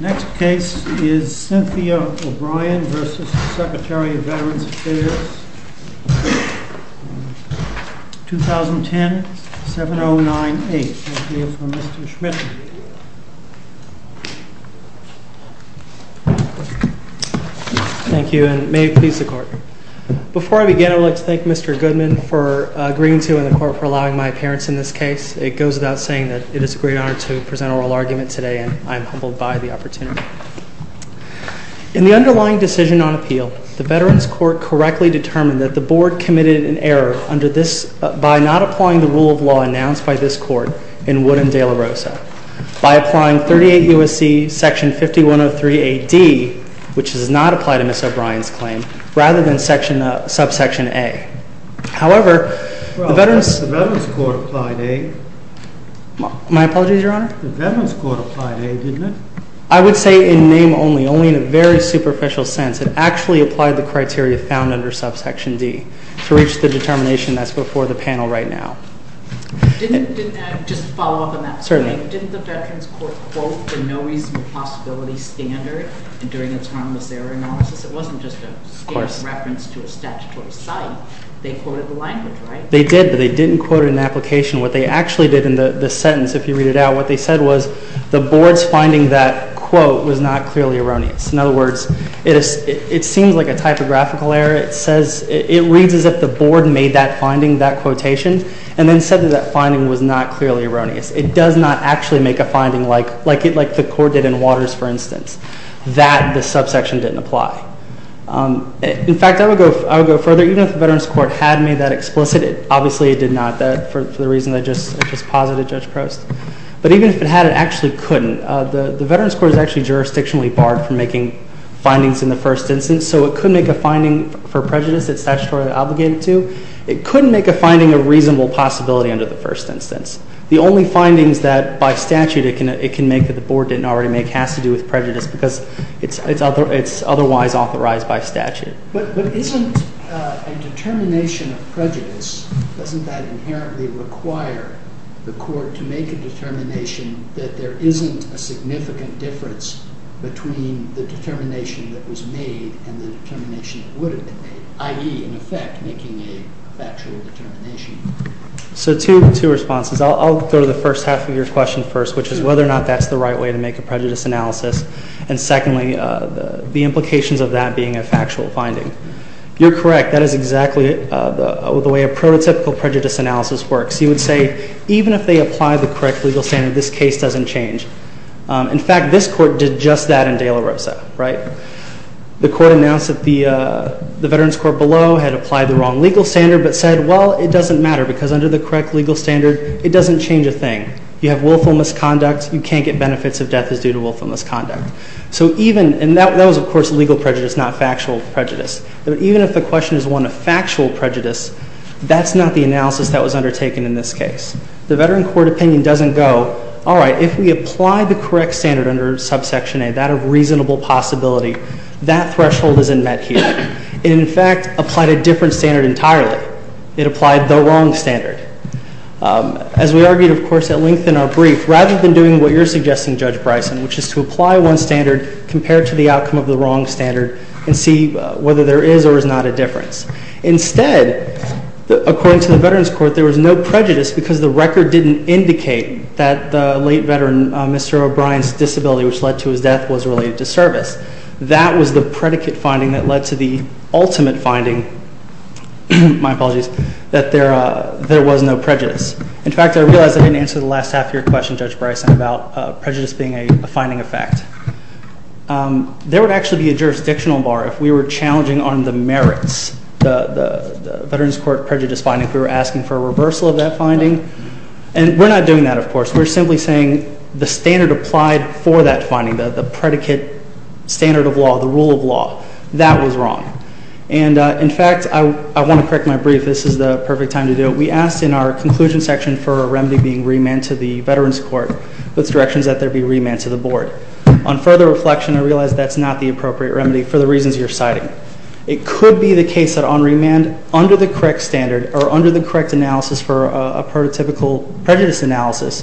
Next case is Cynthia O'Brien v. Secretary of Veterans Affairs 2010-7098. We'll hear from Mr. Schmidt. Thank you, and may it please the Court. Before I begin, I would like to thank Mr. Goodman for agreeing to in the Court for allowing my appearance in this case. It goes without saying that it is a great honor to present oral argument today, and I am humbled by the opportunity. In the underlying decision on appeal, the Veterans Court correctly determined that the Board committed an error by not applying the rule of law announced by this Court in Wood and De La Rosa, by applying 38 U.S.C. Section 5103A.D., which does not apply to Ms. O'Brien's claim, rather than subsection A. However, the Veterans Court applied A. My apologies, Your Honor? The Veterans Court applied A, didn't it? I would say in name only, only in a very superficial sense. It actually applied the criteria found under subsection D to reach the determination that's before the panel right now. Just to follow up on that. Certainly. Didn't the Veterans Court quote the no reasonable possibility standard during its harmless error analysis? It wasn't just a scarce reference to a statutory site. They quoted the language, right? They did, but they didn't quote an application. What they actually did in the sentence, if you read it out, what they said was the Board's finding that quote was not clearly erroneous. In other words, it seems like a typographical error. It reads as if the Board made that finding, that quotation, and then said that that finding was not clearly erroneous. It does not actually make a finding like the court did in Waters, for instance, that the subsection didn't apply. In fact, I would go further. Even if the Veterans Court had made that explicit, obviously it did not for the reason I just posited, Judge Prost. But even if it had, it actually couldn't. The Veterans Court is actually jurisdictionally barred from making findings in the first instance, so it could make a finding for prejudice that's statutorily obligated to. It couldn't make a finding of reasonable possibility under the first instance. The only findings that by statute it can make that the Board didn't already make has to do with prejudice because it's otherwise authorized by statute. But isn't a determination of prejudice, doesn't that inherently require the court to make a determination that there isn't a significant difference between the determination that was made and the determination that would have been made, i.e., in effect, making a factual determination? So two responses. I'll go to the first half of your question first, which is whether or not that's the right way to make a prejudice analysis. And secondly, the implications of that being a factual finding. You're correct. That is exactly the way a prototypical prejudice analysis works. You would say even if they apply the correct legal standard, this case doesn't change. In fact, this court did just that in De La Rosa, right? The court announced that the Veterans Court below had applied the wrong legal standard but said, well, it doesn't matter because under the correct legal standard, it doesn't change a thing. You have willful misconduct. You can't get benefits if death is due to willful misconduct. So even, and that was, of course, legal prejudice, not factual prejudice. But even if the question is one of factual prejudice, that's not the analysis that was undertaken in this case. The Veteran Court opinion doesn't go, all right, if we apply the correct standard under subsection A, that of reasonable possibility, that threshold isn't met here. It, in fact, applied a different standard entirely. It applied the wrong standard. As we argued, of course, at length in our brief, rather than doing what you're suggesting, Judge Bryson, which is to apply one standard compared to the outcome of the wrong standard and see whether there is or is not a difference. Instead, according to the Veterans Court, there was no prejudice because the record didn't indicate that the late veteran, Mr. O'Brien's disability, which led to his death, was related to service. That was the predicate finding that led to the ultimate finding, my apologies, that there was no prejudice. In fact, I realize I didn't answer the last half of your question, Judge Bryson, about prejudice being a finding effect. There would actually be a jurisdictional bar if we were challenging on the merits, the Veterans Court prejudice finding, if we were asking for a reversal of that finding. And we're not doing that, of course. We're simply saying the standard applied for that finding, the predicate standard of law, the rule of law. That was wrong. And, in fact, I want to correct my brief. This is the perfect time to do it. We asked in our conclusion section for a remedy being remanded to the Veterans Court with directions that there be remand to the Board. On further reflection, I realize that's not the appropriate remedy for the reasons you're citing. It could be the case that on remand, under the correct standard, or under the correct analysis for a prototypical prejudice analysis,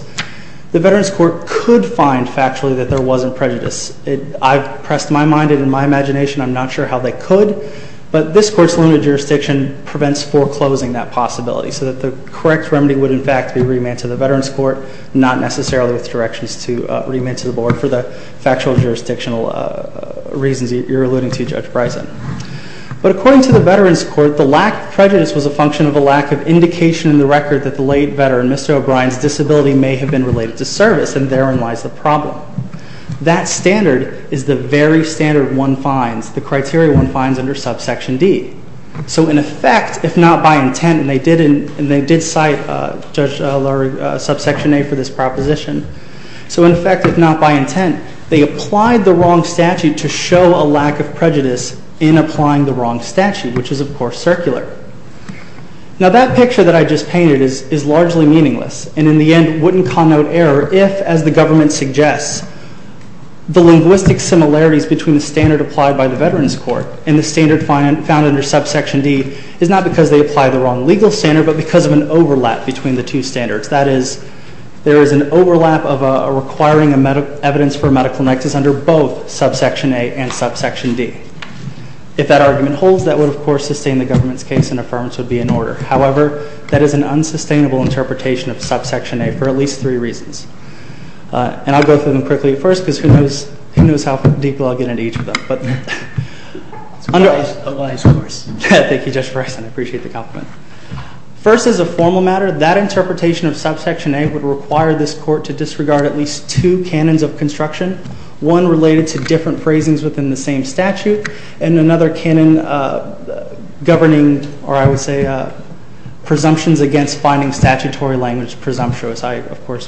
the Veterans Court could find factually that there wasn't prejudice. I've pressed my mind and my imagination. I'm not sure how they could. But this Court's limited jurisdiction prevents foreclosing that possibility, so that the correct remedy would, in fact, be remand to the Veterans Court, not necessarily with directions to remand to the Board for the factual jurisdictional reasons you're alluding to, Judge Bryson. But according to the Veterans Court, the lack of prejudice was a function of a lack of indication in the record that the late veteran, Mr. O'Brien's, disability may have been related to service, and therein lies the problem. That standard is the very standard one finds, the criteria one finds under subsection D. So, in effect, if not by intent, and they did cite Judge Lurie's subsection A for this proposition. So, in effect, if not by intent, they applied the wrong statute to show a lack of prejudice in applying the wrong statute, which is, of course, circular. Now, that picture that I just painted is largely meaningless and, in the end, wouldn't connote error if, as the government suggests, the linguistic similarities between the standard applied by the Veterans Court and the standard found under subsection D is not because they applied the wrong legal standard, but because of an overlap between the two standards. That is, there is an overlap of requiring evidence for medical nexus under both subsection A and subsection D. If that argument holds, that would, of course, sustain the government's case, and affirmance would be in order. However, that is an unsustainable interpretation of subsection A for at least three reasons. And I'll go through them quickly at first, because who knows how deeply I'll get into each of them. Thank you, Judge Bresson. I appreciate the compliment. First, as a formal matter, that interpretation of subsection A would require this court to disregard at least two canons of construction, one related to different phrasings within the same statute, and another canon governing, or I would say, presumptions against finding statutory language presumptuous. I, of course,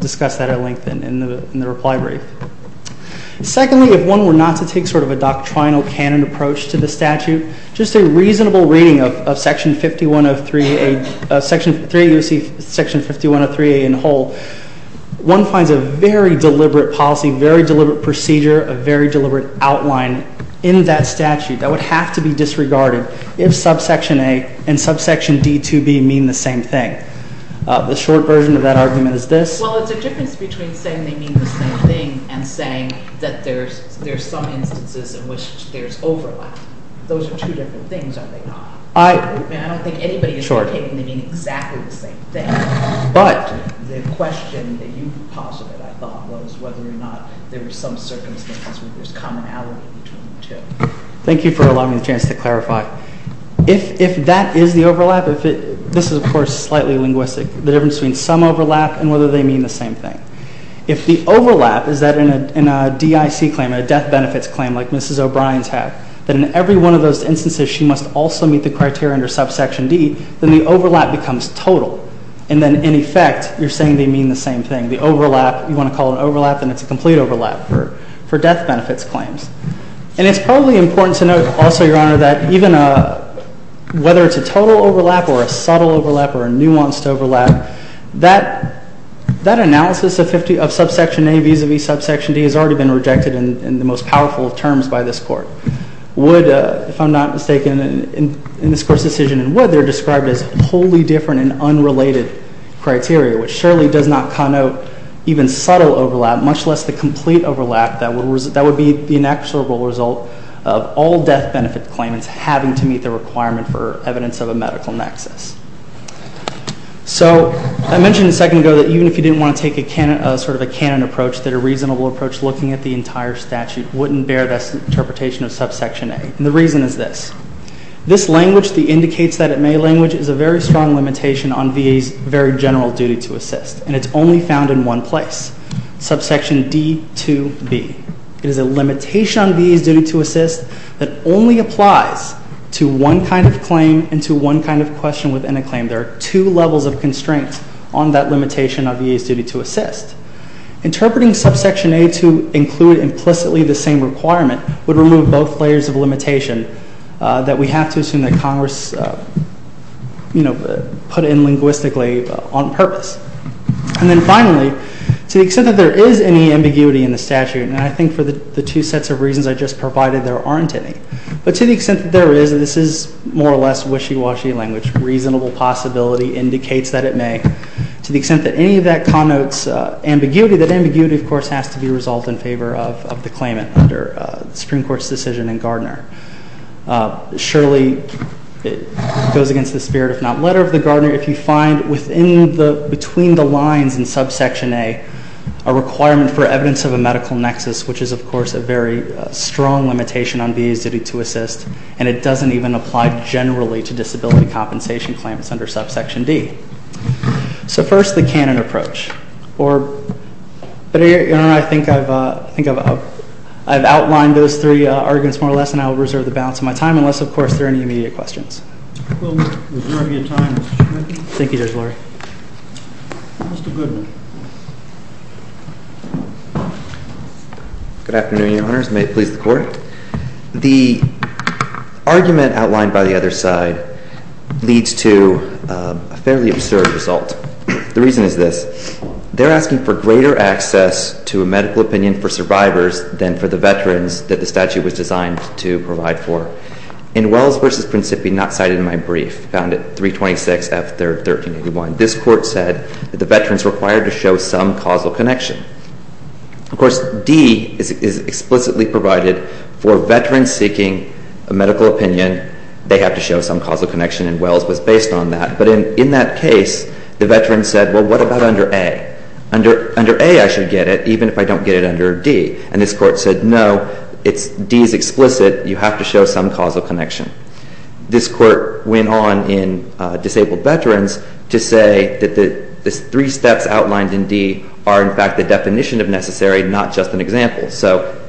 discuss that at length in the reply brief. Secondly, if one were not to take sort of a doctrinal canon approach to the statute, just a reasonable reading of Section 5103A in whole, one finds a very deliberate policy, very deliberate procedure, a very deliberate outline in that statute that would have to be disregarded if subsection A and subsection D2B mean the same thing. The short version of that argument is this. Well, it's a difference between saying they mean the same thing and saying that there's some instances in which there's overlap. Those are two different things, are they not? I don't think anybody is indicating they mean exactly the same thing. But the question that you posited, I thought, was whether or not there were some circumstances where there's commonality between the two. Thank you for allowing me the chance to clarify. If that is the overlap, this is, of course, slightly linguistic, the difference between some overlap and whether they mean the same thing. If the overlap is that in a DIC claim, a death benefits claim like Mrs. O'Brien's had, that in every one of those instances she must also meet the criteria under subsection D, then the overlap becomes total, and then in effect you're saying they mean the same thing. The overlap, you want to call it an overlap, then it's a complete overlap for death benefits claims. And it's probably important to note also, Your Honor, that even whether it's a total overlap or a subtle overlap or a nuanced overlap, that analysis of subsection A vis-à-vis subsection D has already been rejected in the most powerful of terms by this Court. Would, if I'm not mistaken, in this Court's decision, would they're described as wholly different and unrelated criteria, which surely does not connote even subtle overlap, much less the complete overlap that would be the inexorable result of all death benefit claims having to meet the requirement for evidence of a medical nexus. So I mentioned a second ago that even if you didn't want to take a sort of a canon approach, that a reasonable approach looking at the entire statute wouldn't bear the interpretation of subsection A. And the reason is this. This language, the indicates that it may language, is a very strong limitation on VA's very general duty to assist. And it's only found in one place, subsection D2B. It is a limitation on VA's duty to assist that only applies to one kind of claim and to one kind of question within a claim. There are two levels of constraints on that limitation on VA's duty to assist. Interpreting subsection A to include implicitly the same requirement would remove both layers of limitation that we have to assume that Congress, you know, put in linguistically on purpose. And then finally, to the extent that there is any ambiguity in the statute, and I think for the two sets of reasons I just provided there aren't any, but to the extent that there is, this is more or less wishy-washy language. Reasonable possibility indicates that it may. To the extent that any of that connotes ambiguity, that ambiguity, of course, has to be resolved in favor of the claimant under the Supreme Court's decision in Gardner. Surely it goes against the spirit, if not letter of the Gardner, if you find within the, between the lines in subsection A, a requirement for evidence of a medical nexus, which is, of course, a very strong limitation on VA's duty to assist, and it doesn't even apply generally to disability compensation claims under subsection D. So first, the canon approach. Or, but I think I've outlined those three arguments more or less, and I'll reserve the balance of my time, unless, of course, there are any immediate questions. We'll reserve your time, Mr. Schmidt. Thank you, Judge Lurie. Mr. Goodman. Good afternoon, Your Honors. May it please the Court. The argument outlined by the other side leads to a fairly absurd result. The reason is this. They're asking for greater access to a medical opinion for survivors than for the veterans that the statute was designed to provide for. In Wells v. Principi, not cited in my brief, found at 326 F. 3rd, 1381, this Court said that the veterans required to show some causal connection. Of course, D is explicitly provided for veterans seeking a medical opinion. They have to show some causal connection, and Wells was based on that. But in that case, the veterans said, well, what about under A? Under A, I should get it, even if I don't get it under D. And this Court said, no, D is explicit. You have to show some causal connection. This Court went on in Disabled Veterans to say that the three steps outlined in D are, in fact, the definition of necessary, not just an example. So,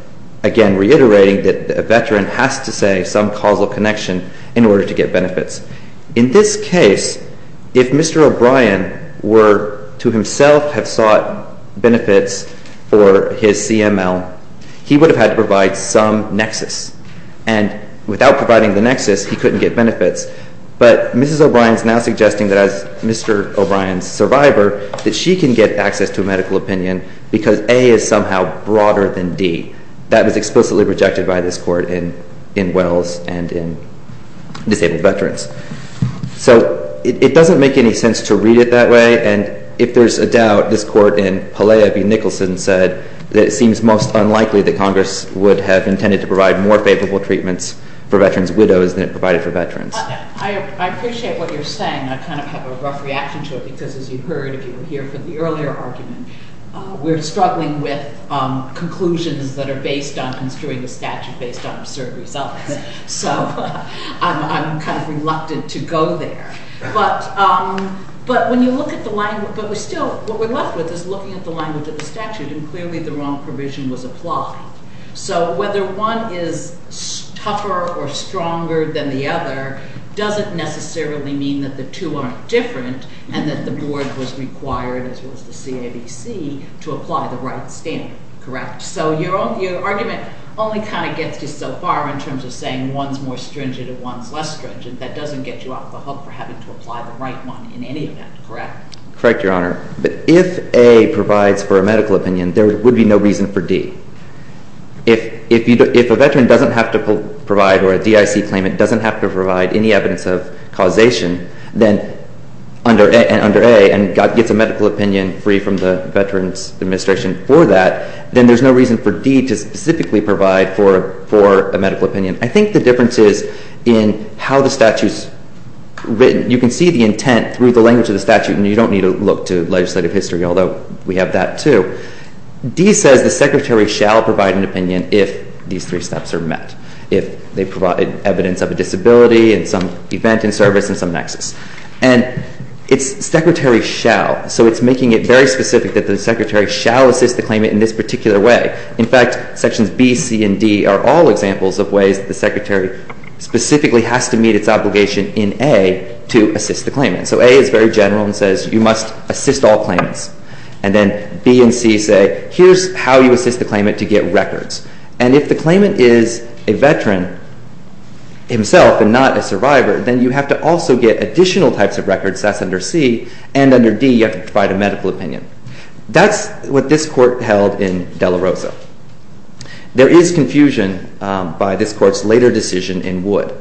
again, reiterating that a veteran has to say some causal connection in order to get benefits. In this case, if Mr. O'Brien were to himself have sought benefits for his CML, he would have had to provide some nexus. And without providing the nexus, he couldn't get benefits. But Mrs. O'Brien is now suggesting that as Mr. O'Brien's survivor, that she can get access to a medical opinion because A is somehow broader than D. That was explicitly rejected by this Court in Wells and in Disabled Veterans. So it doesn't make any sense to read it that way. And if there's a doubt, this Court in Pelea v. Nicholson said that it seems most unlikely that Congress would have intended to provide more favorable treatments for veterans' widows than it provided for veterans. I appreciate what you're saying. I kind of have a rough reaction to it because, as you heard if you were here for the earlier argument, we're struggling with conclusions that are based on construing a statute based on absurd results. So I'm kind of reluctant to go there. But when you look at the language, but we still, what we're left with is looking at the language of the statute, and clearly the wrong provision was applied. So whether one is tougher or stronger than the other doesn't necessarily mean that the two aren't different and that the board was required, as was the CAVC, to apply the right standard, correct? So your argument only kind of gets you so far in terms of saying one's more stringent and one's less stringent. That doesn't get you off the hook for having to apply the right one in any event, correct? Correct, Your Honor. But if A provides for a medical opinion, there would be no reason for D. If a veteran doesn't have to provide or a DIC claimant doesn't have to provide any evidence of causation, then under A, and gets a medical opinion free from the veteran's administration for that, then there's no reason for D to specifically provide for a medical opinion. I think the difference is in how the statute is written. You can see the intent through the language of the statute, and you don't need to look to legislative history, although we have that too. D says the secretary shall provide an opinion if these three steps are met, if they provide evidence of a disability and some event in service and some nexus. And it's secretary shall, so it's making it very specific that the secretary shall assist the claimant in this particular way. In fact, Sections B, C, and D are all examples of ways the secretary specifically has to meet its obligation in A to assist the claimant. So A is very general and says you must assist all claimants. And then B and C say here's how you assist the claimant to get records. And if the claimant is a veteran himself and not a survivor, then you have to also get additional types of records, that's under C, and under D you have to provide a medical opinion. That's what this court held in De La Rosa. There is confusion by this court's later decision in Wood.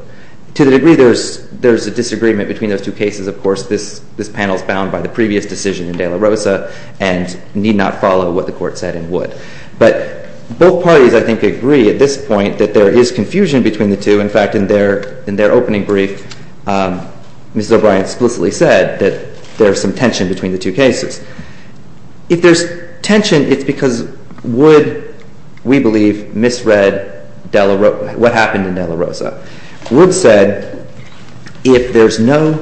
To the degree there's a disagreement between those two cases, of course, this panel is bound by the previous decision in De La Rosa and need not follow what the court said in Wood. But both parties, I think, agree at this point that there is confusion between the two. In fact, in their opening brief, Mrs. O'Brien explicitly said that there's some tension between the two cases. If there's tension, it's because Wood, we believe, misread what happened in De La Rosa. Wood said if there's no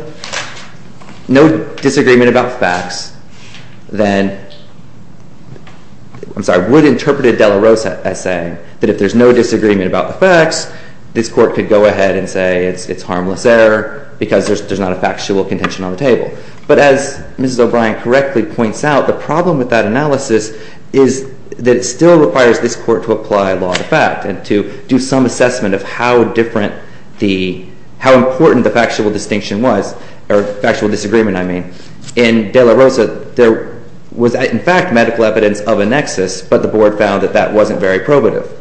disagreement about facts, then ‑‑ I'm sorry. Wood interpreted De La Rosa as saying that if there's no disagreement about the facts, this court could go ahead and say it's harmless error because there's not a factual contention on the table. But as Mrs. O'Brien correctly points out, the problem with that analysis is that it still requires this court to apply law to fact and to do some assessment of how important the factual distinction was, or factual disagreement, I mean. In De La Rosa, there was, in fact, medical evidence of a nexus, but the board found that that wasn't very probative.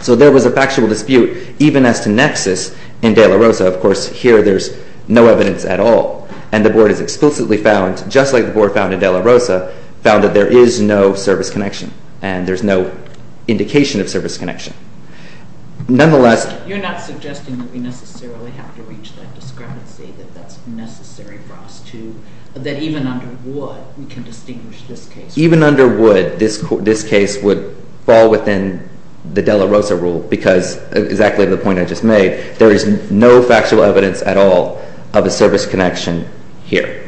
So there was a factual dispute even as to nexus in De La Rosa. Of course, here there's no evidence at all. And the board has explicitly found, just like the board found in De La Rosa, found that there is no service connection and there's no indication of service connection. Nonetheless ‑‑ You're not suggesting that we necessarily have to reach that discrepancy, that that's necessary for us to, that even under Wood, we can distinguish this case. Even under Wood, this case would fall within the De La Rosa rule because, exactly the point I just made, there is no factual evidence at all of a service connection here.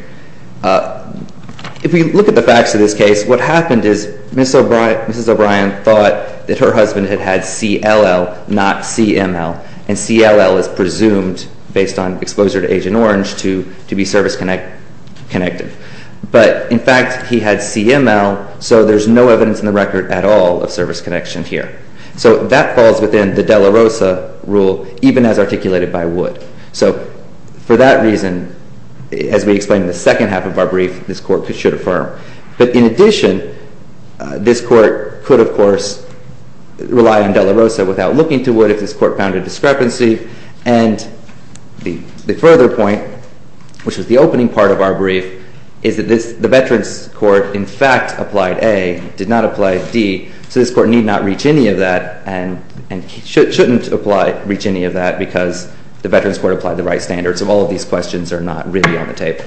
If we look at the facts of this case, what happened is Mrs. O'Brien thought that her husband had had CLL, not CML. And CLL is presumed, based on exposure to Agent Orange, to be service connected. But, in fact, he had CML, so there's no evidence in the record at all of service connection here. So that falls within the De La Rosa rule, even as articulated by Wood. So, for that reason, as we explained in the second half of our brief, this Court should affirm. But, in addition, this Court could, of course, rely on De La Rosa without looking to Wood if this Court found a discrepancy. And the further point, which was the opening part of our brief, is that the Veterans Court, in fact, applied A, did not apply D. So this Court need not reach any of that and shouldn't reach any of that because the Veterans Court applied the right standards. So all of these questions are not really on the table.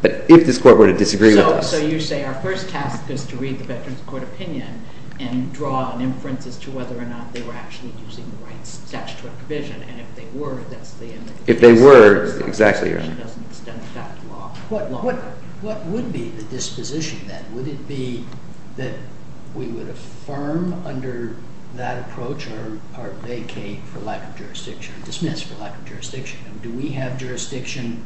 But if this Court were to disagree with us... So you say our first task is to read the Veterans Court opinion and draw an inference as to whether or not they were actually using the right statutory provision. And if they were, that's the end of the case. If they were, exactly. It doesn't extend that long. What would be the disposition, then? Would it be that we would affirm under that approach or vacate for lack of jurisdiction, or dismiss for lack of jurisdiction? Do we have jurisdiction?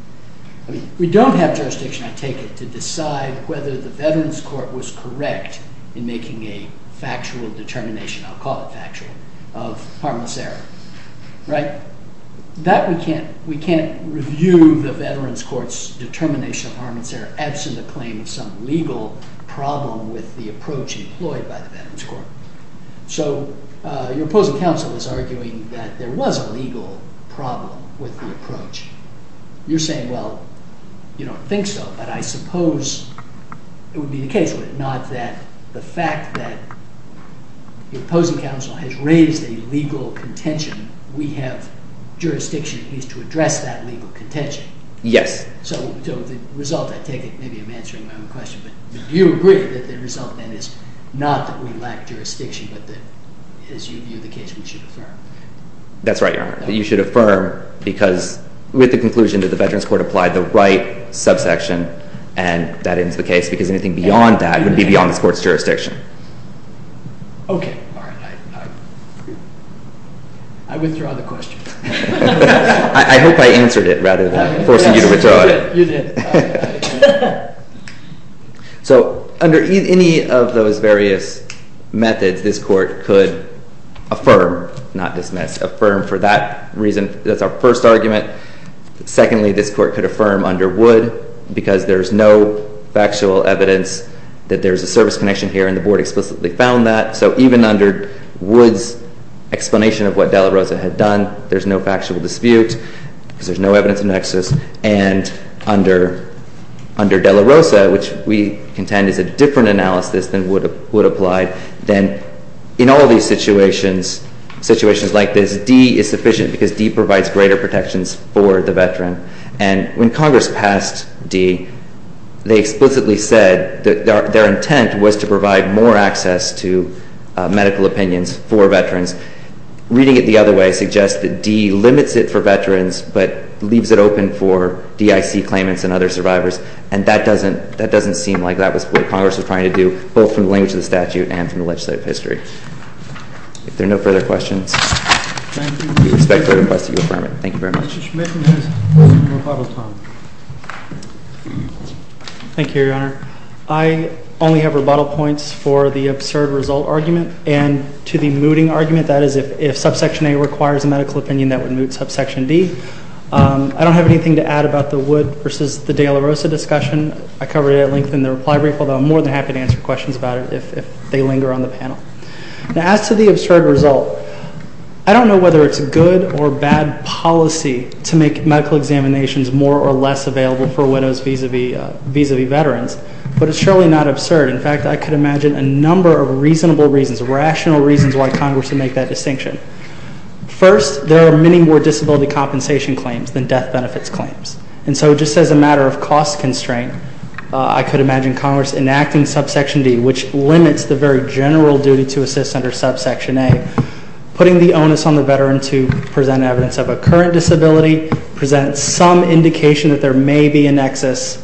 We don't have jurisdiction, I take it, to decide whether the Veterans Court was correct in making a factual determination, I'll call it factual, of harmless error. Right? That we can't review the Veterans Court's determination of harmless error, absent the claim of some legal problem with the approach employed by the Veterans Court. So your opposing counsel is arguing that there was a legal problem with the approach. You're saying, well, you don't think so, but I suppose it would be the case, would it not, that the fact that the opposing counsel has raised a legal contention, we have jurisdiction at least to address that legal contention? Yes. So the result, I take it, maybe I'm answering my own question, but do you agree that the result, then, is not that we lack jurisdiction, but that, as you view the case, we should affirm? That's right, Your Honor, that you should affirm because with the conclusion that the Veterans Court applied the right subsection, and that ends the case, because anything beyond that would be beyond this court's jurisdiction. Okay. All right. I withdraw the question. I hope I answered it rather than forcing you to withdraw it. You did. So under any of those various methods, this court could affirm, not dismiss, affirm for that reason. That's our first argument. Secondly, this court could affirm under Wood because there's no factual evidence that there's a service connection here, and the Board explicitly found that. So even under Wood's explanation of what Della Rosa had done, there's no factual dispute because there's no evidence of nexus. And under Della Rosa, which we contend is a different analysis than Wood applied, then in all these situations, situations like this, D is sufficient because D provides greater protections for the veteran. And when Congress passed D, they explicitly said that their intent was to provide more access to medical opinions for veterans. Reading it the other way suggests that D limits it for veterans but leaves it open for DIC claimants and other survivors. And that doesn't seem like that was what Congress was trying to do, both from the language of the statute and from the legislative history. If there are no further questions, we expect to request that you affirm it. Thank you very much. Mr. Schmidt has rebuttal time. Thank you, Your Honor. I only have rebuttal points for the absurd result argument and to the mooting argument, that is, if subsection A requires a medical opinion, that would moot subsection D. I don't have anything to add about the Wood versus the Della Rosa discussion. I covered it at length in the reply brief, although I'm more than happy to answer questions about it if they linger on the panel. As to the absurd result, I don't know whether it's good or bad policy to make medical examinations more or less available for widows vis-a-vis veterans, but it's surely not absurd. In fact, I could imagine a number of reasonable reasons, rational reasons why Congress would make that distinction. First, there are many more disability compensation claims than death benefits claims. And so just as a matter of cost constraint, I could imagine Congress enacting subsection D, which limits the very general duty to assist under subsection A, putting the onus on the veteran to present evidence of a current disability, present some indication that there may be a nexus,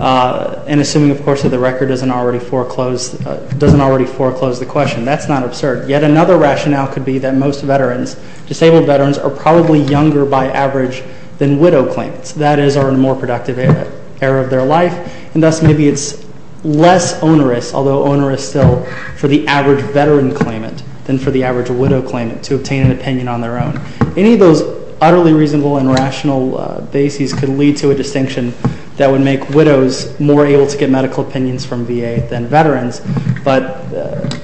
and assuming, of course, that the record doesn't already foreclose the question. That's not absurd. Yet another rationale could be that most veterans, disabled veterans, are probably younger by average than widow claimants. That is, are in a more productive era of their life, and thus maybe it's less onerous, although onerous still, for the average veteran claimant than for the average widow claimant to obtain an opinion on their own. Any of those utterly reasonable and rational bases could lead to a distinction that would make widows more able to get medical opinions from VA than veterans. But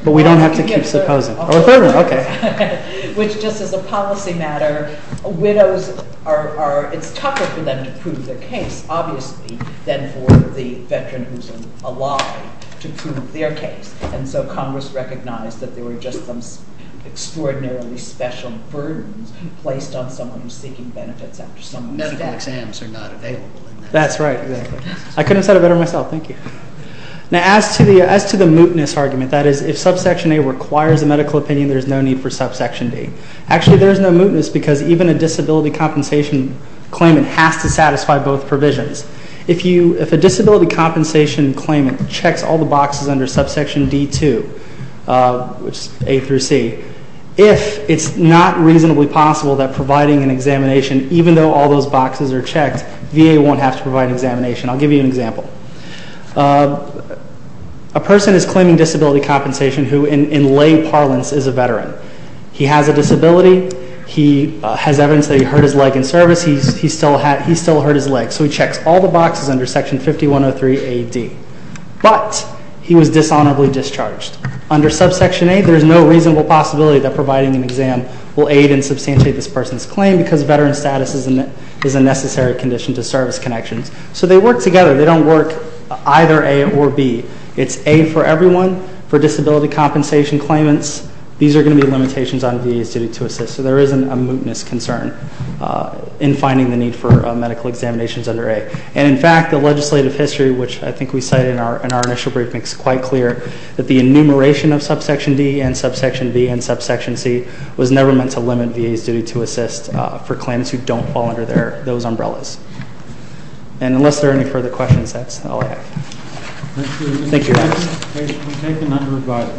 we don't have to keep supposing. Oh, a third one, okay. Which just as a policy matter, widows are – it's tougher for them to prove their case, obviously, than for the veteran who's alive to prove their case. And so Congress recognized that there were just some extraordinarily special burdens placed on someone who's seeking benefits after someone's death. Medical exams are not available. That's right. I couldn't have said it better myself. Thank you. Now, as to the mootness argument, that is, if Subsection A requires a medical opinion, there's no need for Subsection D. Actually, there's no mootness because even a disability compensation claimant has to satisfy both provisions. If a disability compensation claimant checks all the boxes under Subsection D2, which is A through C, if it's not reasonably possible that providing an examination, even though all those boxes are checked, VA won't have to provide an examination. I'll give you an example. A person is claiming disability compensation who, in lay parlance, is a veteran. He has a disability. He has evidence that he hurt his leg in service. He still hurt his leg, so he checks all the boxes under Section 5103A.D. But he was dishonorably discharged. Under Subsection A, there's no reasonable possibility that providing an exam will aid and substantiate this person's claim because veteran status is a necessary condition to service connections. So they work together. They don't work either A or B. It's A for everyone. For disability compensation claimants, these are going to be limitations on VA's duty to assist. So there isn't a mootness concern in finding the need for medical examinations under A. And, in fact, the legislative history, which I think we cited in our initial brief, makes it quite clear that the enumeration of Subsection D and Subsection B and Subsection C was never meant to limit VA's duty to assist for claimants who don't fall under those umbrellas. And unless there are any further questions, that's all I have. Thank you.